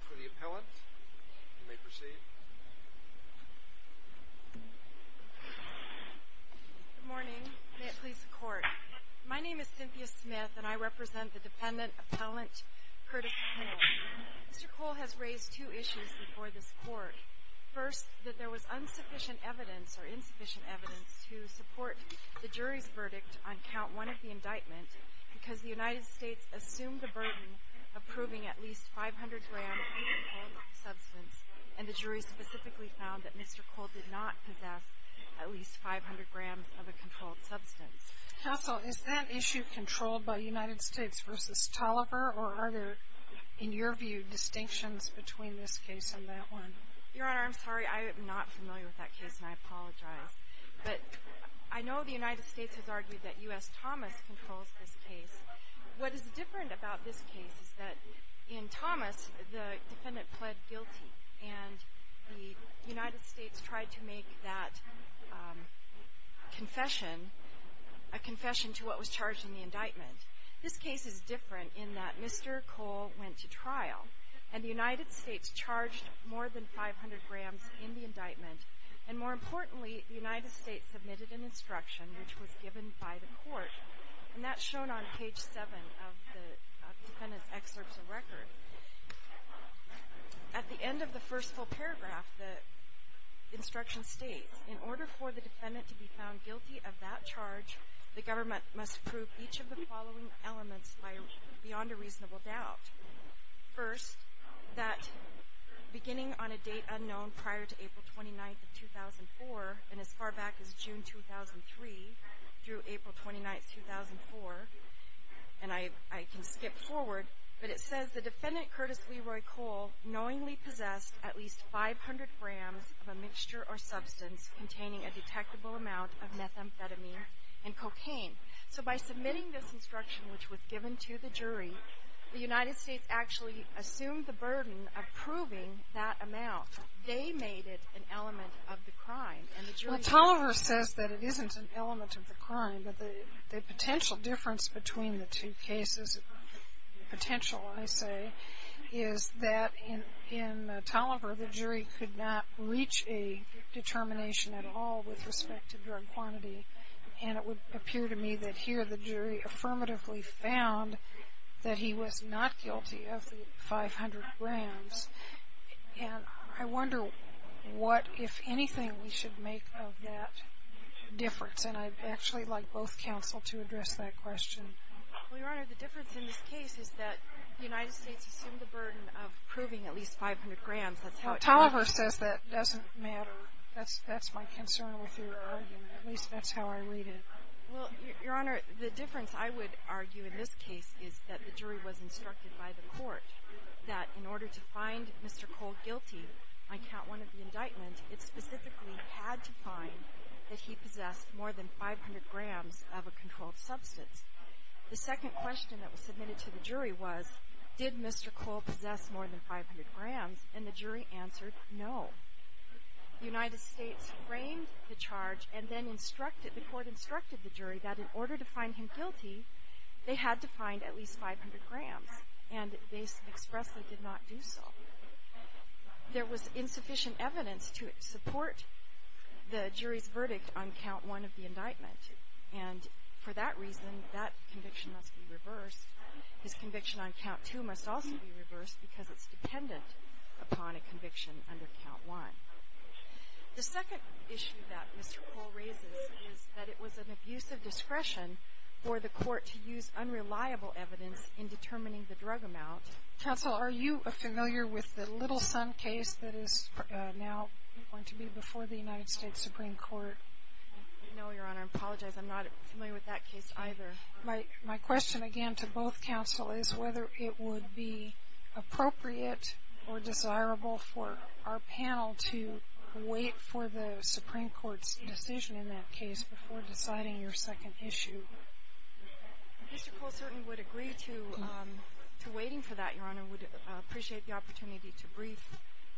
For the appellant, you may proceed. Good morning. May it please the Court. My name is Cynthia Smith, and I represent the dependent appellant Curtis Kohl. Mr. Kohl has raised two issues before this Court. First, that there was insufficient evidence or insufficient evidence to support the jury's verdict on Count 1 of the indictment because the United States assumed the burden of proving at least 500 grams of a controlled substance, and the jury specifically found that Mr. Kohl did not possess at least 500 grams of a controlled substance. Counsel, is that issue controlled by the United States v. Tolliver, or are there, in your view, distinctions between this case and that one? Your Honor, I'm sorry. I am not familiar with that case, and I apologize. But I know the United States has argued that U.S. Thomas controls this case. What is different about this case is that in Thomas, the defendant pled guilty, and the United States tried to make that confession a confession to what was charged in the indictment. This case is different in that Mr. Kohl went to trial, and the United States charged more than 500 grams in the indictment. And more importantly, the United States submitted an instruction, which was given by the Court, and that's shown on page 7 of the defendant's excerpts of record. At the end of the first full paragraph, the instruction states, in order for the defendant to be found guilty of that charge, the government must prove each of the following elements beyond a reasonable doubt. First, that beginning on a date unknown prior to April 29, 2004, and as far back as June 2003 through April 29, 2004, and I can skip forward, but it says the defendant, Curtis Leroy Kohl, knowingly possessed at least 500 grams of a mixture or substance containing a detectable amount of methamphetamine and cocaine. So by submitting this instruction, which was given to the jury, the United States actually assumed the burden of proving that amount. They made it an element of the crime. And the jury… Well, Tolliver says that it isn't an element of the crime, but the potential difference between the two cases, potential, I say, is that in Tolliver, the jury could not reach a determination at all with respect to drug quantity, and it would appear to me that here the jury affirmatively found that he was not guilty of the 500 grams. And I wonder what, if anything, we should make of that difference. And I'd actually like both counsel to address that question. Well, Your Honor, the difference in this case is that the United States assumed the burden of proving at least 500 grams. That's how it works. Well, Tolliver says that doesn't matter. That's my concern with your argument. At least that's how I read it. Well, Your Honor, the difference I would argue in this case is that the jury was instructed by the court that in order to find Mr. Cole guilty on Count 1 of the indictment, it specifically had to find that he possessed more than 500 grams of a controlled substance. The second question that was submitted to the jury was, did Mr. Cole possess more than 500 grams? And the jury answered no. The United States framed the charge, and then the court instructed the jury that in order to find him guilty, they had to find at least 500 grams. And they expressly did not do so. There was insufficient evidence to support the jury's verdict on Count 1 of the indictment. And for that reason, that conviction must be reversed. His conviction on Count 2 must also be reversed because it's dependent upon a conviction under Count 1. The second issue that Mr. Cole raises is that it was an abuse of discretion for the court to use unreliable evidence in determining the drug amount. Counsel, are you familiar with the Little Son case that is now going to be before the United States Supreme Court? No, Your Honor. I apologize. I'm not familiar with that case either. My question, again, to both counsel is whether it would be appropriate or desirable for our panel to wait for the Supreme Court's decision in that case before deciding your second issue. Mr. Cole certainly would agree to waiting for that, Your Honor. We'd appreciate the opportunity to brief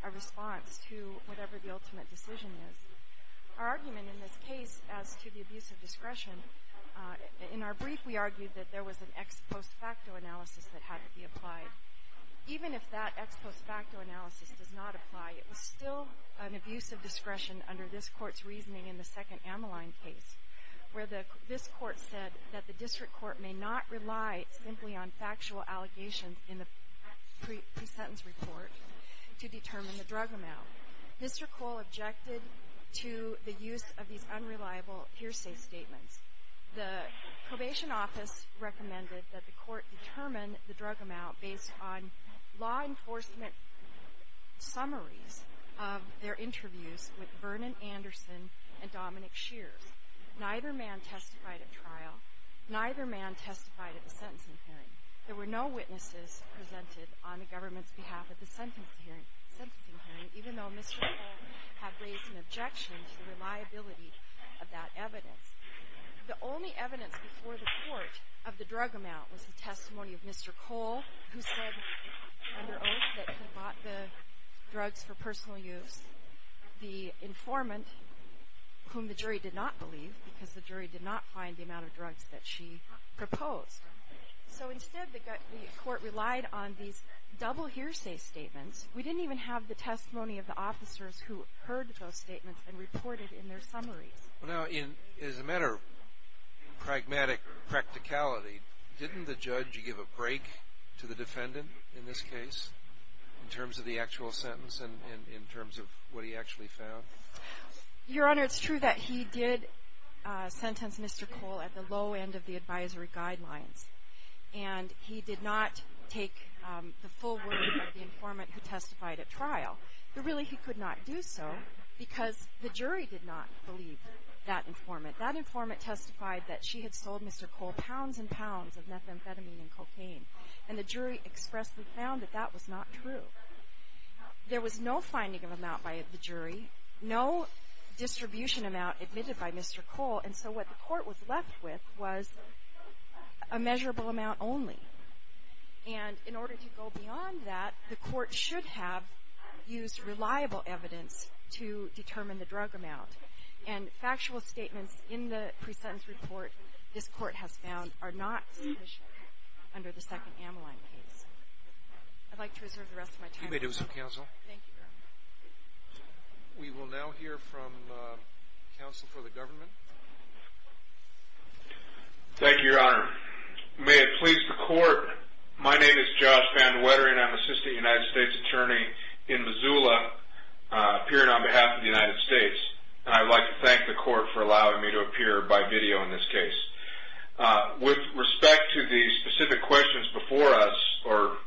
a response to whatever the ultimate decision is. Our argument in this case as to the abuse of discretion, in our brief, we argued that there was an ex post facto analysis that had to be applied. Even if that ex post facto analysis does not apply, it was still an abuse of discretion under this Court's reasoning in the second Ammaline case, where this Court said that the district court may not rely simply on factual allegations in the pre-sentence report to determine the drug amount. Mr. Cole objected to the use of these unreliable hearsay statements. The probation office recommended that the Court determine the drug amount based on law enforcement summaries of their interviews with Vernon Anderson and Dominic Shears. Neither man testified at trial. Neither man testified at the sentencing hearing. There were no witnesses presented on the government's behalf at the sentencing hearing, even though Mr. Cole had raised an objection to the reliability of that evidence. The only evidence before the Court of the drug amount was the testimony of Mr. Cole, who said under oath that he bought the drugs for personal use. The informant, whom the jury did not believe, because the jury did not find the amount of drugs that she proposed. So instead, the Court relied on these double hearsay statements. We didn't even have the testimony of the officers who heard those statements and reported in their summaries. Well, now, as a matter of pragmatic practicality, didn't the judge give a break to the defendant in this case, in terms of the actual sentence and in terms of what he actually found? Your Honor, it's true that he did sentence Mr. Cole at the low end of the advisory guidelines. And he did not take the full word of the informant who testified at trial. But really, he could not do so, because the jury did not believe that informant. That informant testified that she had sold Mr. Cole pounds and pounds of methamphetamine and cocaine. And the jury expressly found that that was not true. There was no finding of amount by the jury, no distribution amount admitted by Mr. Cole. And so what the Court was left with was a measurable amount only. And in order to go beyond that, the Court should have used reliable evidence to determine the drug amount. And factual statements in the pre-sentence report this Court has found are not sufficient under the second Ameline case. I'd like to reserve the rest of my time. You may do so, Counsel. Thank you, Your Honor. We will now hear from Counsel for the Government. Thank you, Your Honor. May it please the Court, my name is Josh VanWetter, and I'm Assistant United States Attorney in Missoula, appearing on behalf of the United States. And I'd like to thank the Court for allowing me to appear by video in this case. With respect to the specific questions before us, and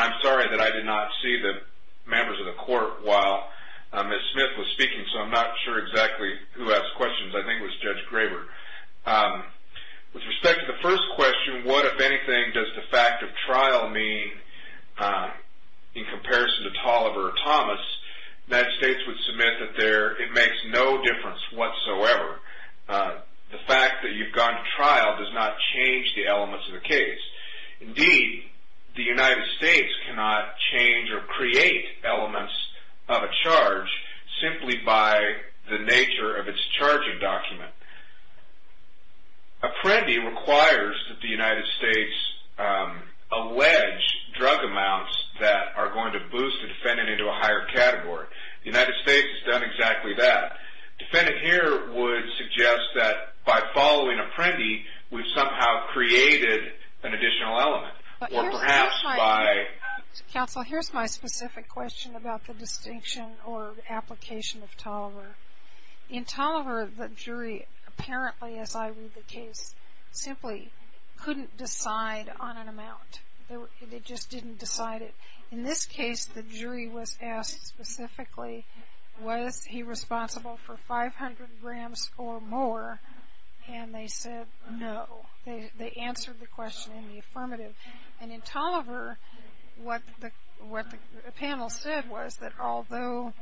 I'm sorry that I did not see the members of the Court while Ms. Smith was speaking, so I'm not sure exactly who asked questions. I think it was Judge Graber. With respect to the first question, what, if anything, does the fact of trial mean in comparison to Tolliver or Thomas, the United States would submit that it makes no difference whatsoever. The fact that you've gone to trial does not change the elements of the case. Indeed, the United States cannot change or create elements of a charge simply by the nature of its charging document. Apprendi requires that the United States allege drug amounts that are going to boost the defendant into a higher category. The United States has done exactly that. Defendant here would suggest that by following Apprendi, we've somehow created an additional element, or perhaps by- Counsel, here's my specific question about the distinction or application of Tolliver. In Tolliver, the jury apparently, as I read the case, simply couldn't decide on an amount. They just didn't decide it. In this case, the jury was asked specifically, was he responsible for 500 grams or more? And they said no. They answered the question in the affirmative. And in Tolliver, what the panel said was that although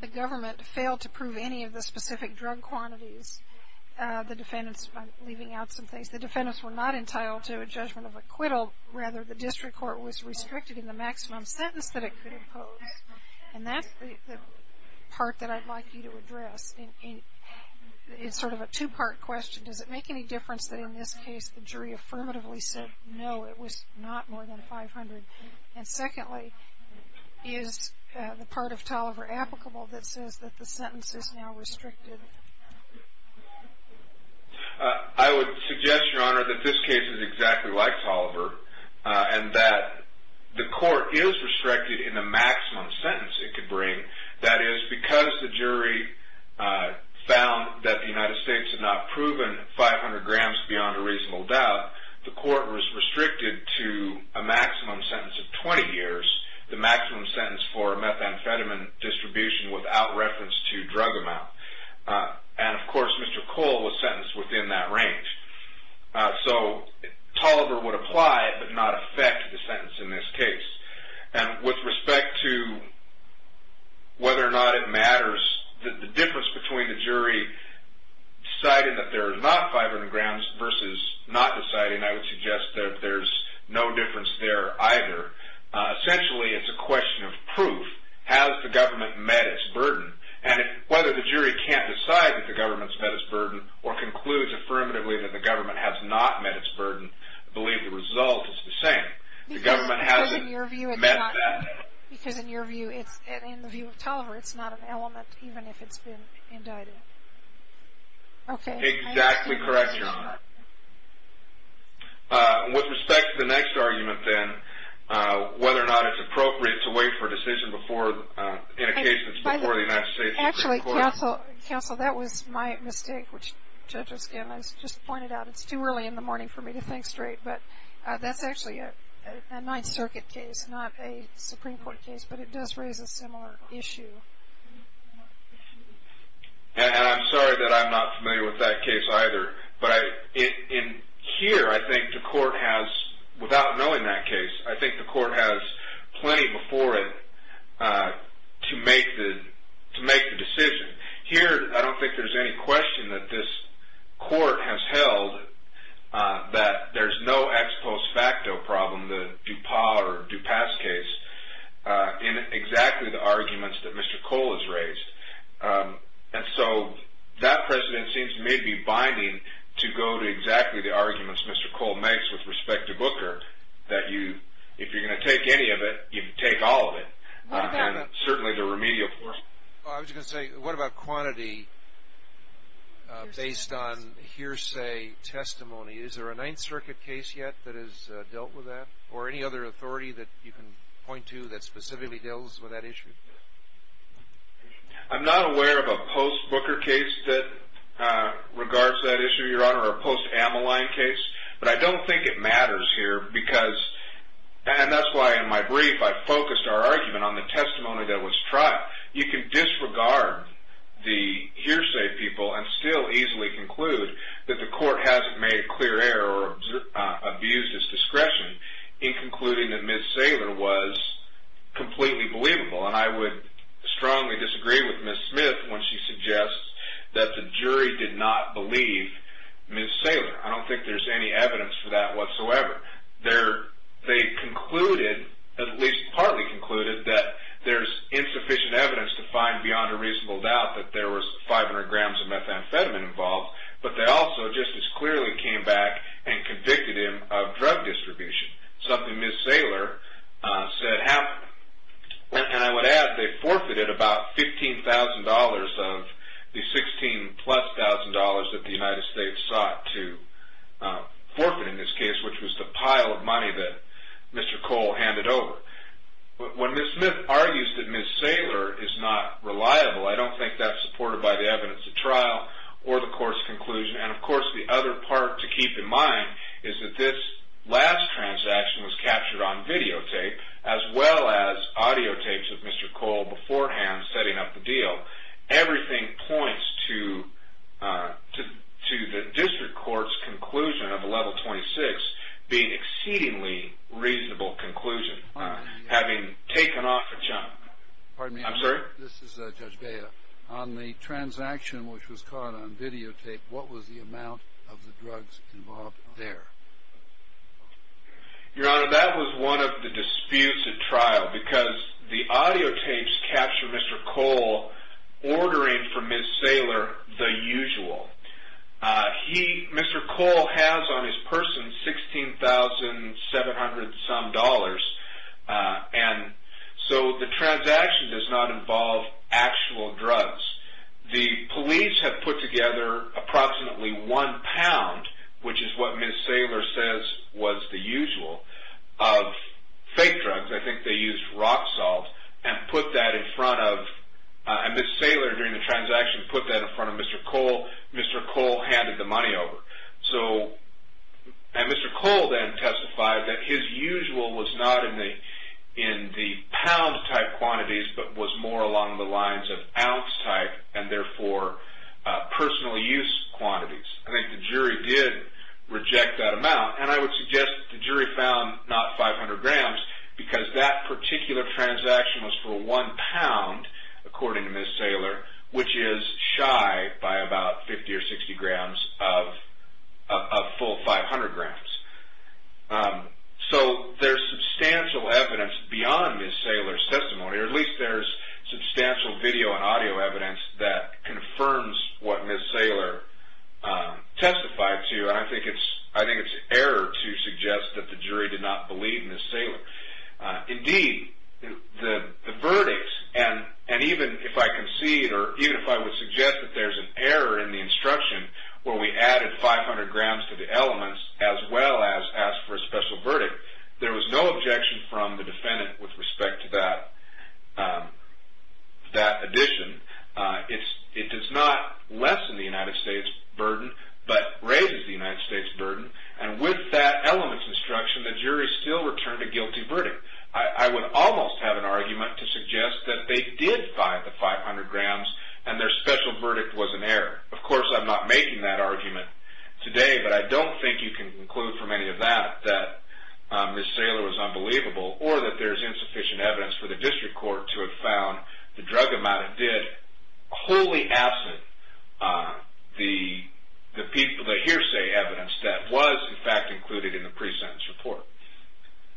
the government failed to prove any of the specific drug quantities, the defendants, I'm leaving out some things, the defendants were not entitled to a judgment of acquittal. Rather, the district court was restricted in the maximum sentence that it could impose. And that's the part that I'd like you to address. It's sort of a two-part question. Does it make any difference that in this case the jury affirmatively said no, it was not more than 500? And secondly, is the part of Tolliver applicable that says that the sentence is now restricted? I would suggest, Your Honor, that this case is exactly like Tolliver and that the court is restricted in the maximum sentence it could bring. That is, because the jury found that the United States had not proven 500 grams beyond a reasonable doubt, the court was restricted to a maximum sentence of 20 years, the maximum sentence for methamphetamine distribution without reference to drug amount. And, of course, Mr. Cole was sentenced within that range. So Tolliver would apply but not affect the sentence in this case. And with respect to whether or not it matters, the difference between the jury deciding that there is not 500 grams versus not deciding, I would suggest that there's no difference there either. Essentially, it's a question of proof. Has the government met its burden? And whether the jury can't decide that the government's met its burden or concludes affirmatively that the government has not met its burden, I believe the result is the same. The government hasn't met that. Because in your view, in the view of Tolliver, it's not an element even if it's been indicted. Exactly correct, Your Honor. With respect to the next argument then, whether or not it's appropriate to wait for a decision before, in a case that's before the United States Supreme Court. Actually, counsel, that was my mistake, which judges can just point it out. It's too early in the morning for me to think straight. But that's actually a Ninth Circuit case, not a Supreme Court case. But it does raise a similar issue. And I'm sorry that I'm not familiar with that case either. But in here, I think the court has, without knowing that case, I think the court has plenty before it to make the decision. Here, I don't think there's any question that this court has held that there's no ex post facto problem, the Dupas case, in exactly the arguments that Mr. Cole has raised. And so that precedent seems to me to be binding to go to exactly the arguments Mr. Cole makes with respect to Booker, that if you're going to take any of it, you take all of it. And certainly the remedial force. I was going to say, what about quantity based on hearsay testimony? Is there a Ninth Circuit case yet that has dealt with that? Or any other authority that you can point to that specifically deals with that issue? I'm not aware of a post Booker case that regards that issue, Your Honor, or a post Ammaline case. But I don't think it matters here because, and that's why in my brief I focused our argument on the testimony that was tried. You can disregard the hearsay people and still easily conclude that the court hasn't made clear error or abused its discretion in concluding that Ms. Saylor was completely believable. And I would strongly disagree with Ms. Smith when she suggests that the jury did not believe Ms. Saylor. I don't think there's any evidence for that whatsoever. They concluded, at least partly concluded, that there's insufficient evidence to find beyond a reasonable doubt that there was 500 grams of methamphetamine involved. But they also just as clearly came back and convicted him of drug distribution. Something Ms. Saylor said happened. And I would add they forfeited about $15,000 of the $16,000 plus that the United States sought to forfeit in this case, which was the pile of money that Mr. Cole handed over. When Ms. Smith argues that Ms. Saylor is not reliable, I don't think that's supported by the evidence at trial or the court's conclusion. And, of course, the other part to keep in mind is that this last transaction was captured on videotape, as well as audiotapes of Mr. Cole beforehand setting up the deal. Everything points to the district court's conclusion of a level 26 being an exceedingly reasonable conclusion, having taken off a chunk. Pardon me. I'm sorry? This is Judge Bea. On the transaction which was caught on videotape, what was the amount of the drugs involved there? Your Honor, that was one of the disputes at trial because the audiotapes capture Mr. Cole ordering for Ms. Saylor the usual. Mr. Cole has on his person $16,700-some, and so the transaction does not involve actual drugs. The police have put together approximately one pound, which is what Ms. Saylor says was the usual, of fake drugs. I think they used rock salt and put that in front of – and Ms. Saylor, during the transaction, put that in front of Mr. Cole. Mr. Cole handed the money over. Mr. Cole then testified that his usual was not in the pound-type quantities but was more along the lines of ounce-type and, therefore, personal use quantities. I think the jury did reject that amount, and I would suggest the jury found not 500 grams because that particular transaction was for one pound, according to Ms. Saylor, which is shy by about 50 or 60 grams of full 500 grams. So there's substantial evidence beyond Ms. Saylor's testimony, or at least there's substantial video and audio evidence that confirms what Ms. Saylor testified to, and I think it's error to suggest that the jury did not believe Ms. Saylor. Indeed, the verdict, and even if I concede or even if I would suggest that there's an error in the instruction where we added 500 grams to the elements as well as asked for a special verdict, there was no objection from the defendant with respect to that addition. It does not lessen the United States' burden but raises the United States' burden, and with that elements instruction, the jury still returned a guilty verdict. I would almost have an argument to suggest that they did find the 500 grams and their special verdict was an error. Of course, I'm not making that argument today, but I don't think you can conclude from any of that that Ms. Saylor was unbelievable or that there's insufficient evidence for the district court to have found the drug amount it did wholly absent the hearsay evidence that was, in fact, included in the pre-sentence report.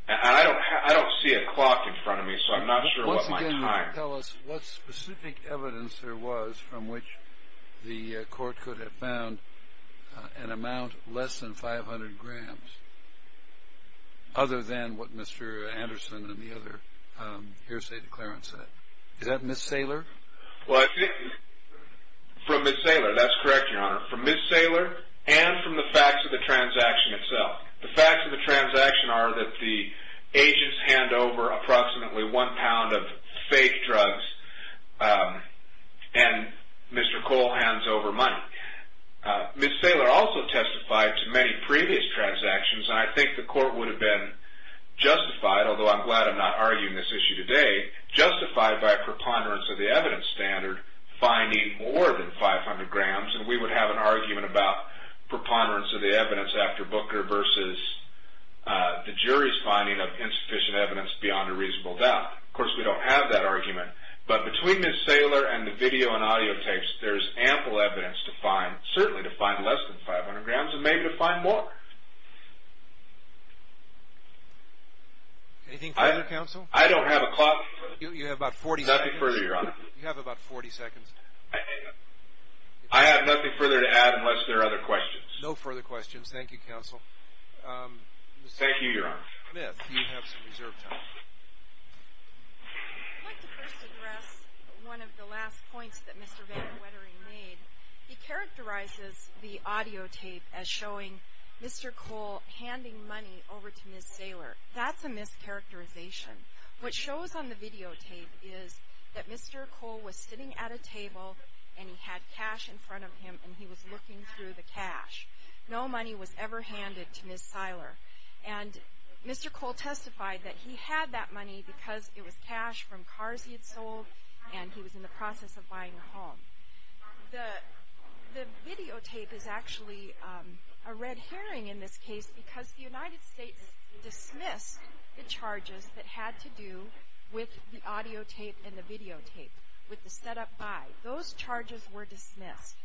I don't see a clock in front of me, so I'm not sure about my time. Once again, tell us what specific evidence there was from which the court could have found an amount less than 500 grams other than what Mr. Anderson and the other hearsay declarants said. Is that Ms. Saylor? From Ms. Saylor, that's correct, Your Honor. From Ms. Saylor and from the facts of the transaction itself. The facts of the transaction are that the agents hand over approximately one pound of fake drugs and Mr. Cole hands over money. Ms. Saylor also testified to many previous transactions, and I think the court would have been justified, although I'm glad I'm not arguing this issue today, justified by a preponderance of the evidence standard finding more than 500 grams. We would have an argument about preponderance of the evidence after Booker versus the jury's finding of insufficient evidence beyond a reasonable doubt. Of course, we don't have that argument, but between Ms. Saylor and the video and audio tapes, there's ample evidence to find, certainly to find less than 500 grams and maybe to find more. Anything further, Counsel? I don't have a clock. You have about 40 seconds. Nothing further, Your Honor. You have about 40 seconds. I have nothing further to add unless there are other questions. No further questions. Thank you, Counsel. Thank you, Your Honor. Ms. Smith, you have some reserved time. I'd like to first address one of the last points that Mr. Van Wettering made. He characterizes the audio tape as showing Mr. Cole handing money over to Ms. Saylor. That's a mischaracterization. What shows on the videotape is that Mr. Cole was sitting at a table, and he had cash in front of him, and he was looking through the cash. No money was ever handed to Ms. Saylor. And Mr. Cole testified that he had that money because it was cash from cars he had sold, and he was in the process of buying a home. The videotape is actually a red herring in this case because the United States dismissed the charges that had to do with the audio tape and the videotape, with the setup by. Those charges were dismissed.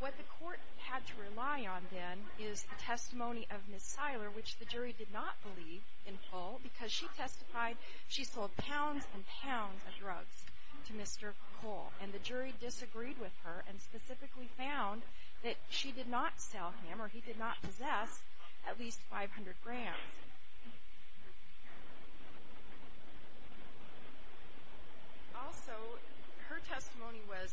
What the court had to rely on then is the testimony of Ms. Saylor, which the jury did not believe in Cole, because she testified she sold pounds and pounds of drugs to Mr. Cole. And the jury disagreed with her and specifically found that she did not sell him, or he did not possess, at least 500 grams. Also, her testimony was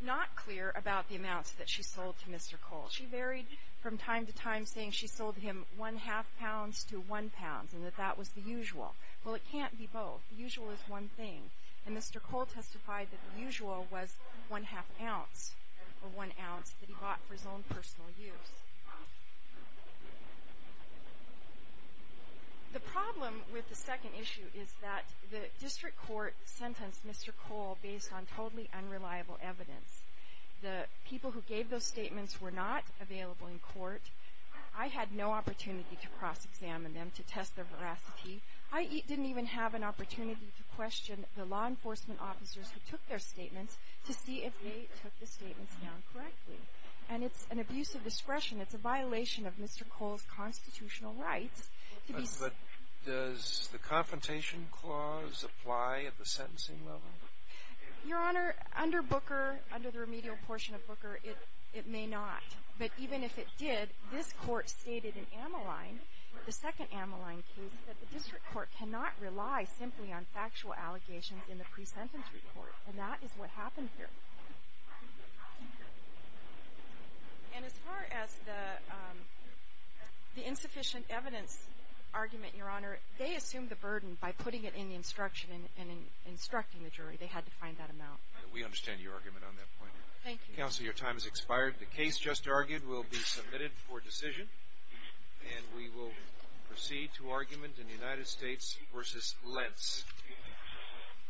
not clear about the amounts that she sold to Mr. Cole. She varied from time to time, saying she sold him one-half pounds to one pounds, and that that was the usual. Well, it can't be both. The usual is one thing. And Mr. Cole testified that the usual was one-half ounce, or one ounce that he bought for his own personal use. The problem with the second issue is that the district court sentenced Mr. Cole based on totally unreliable evidence. The people who gave those statements were not available in court. I had no opportunity to cross-examine them, to test their veracity. I didn't even have an opportunity to question the law enforcement officers who took their statements to see if they took the statements down correctly. And it's an abuse of discretion. It's a violation of Mr. Cole's constitutional rights. But does the Confrontation Clause apply at the sentencing level? Your Honor, under Booker, under the remedial portion of Booker, it may not. But even if it did, this Court stated in Ammaline, the second Ammaline case, that the district court cannot rely simply on factual allegations in the pre-sentence report. And that is what happened here. And as far as the insufficient evidence argument, Your Honor, they assumed the burden by putting it in the instruction and instructing the jury. They had to find that amount. We understand your argument on that point. Thank you. Counsel, your time has expired. The case just argued will be submitted for decision. And we will proceed to argument in the United States v. Lentz.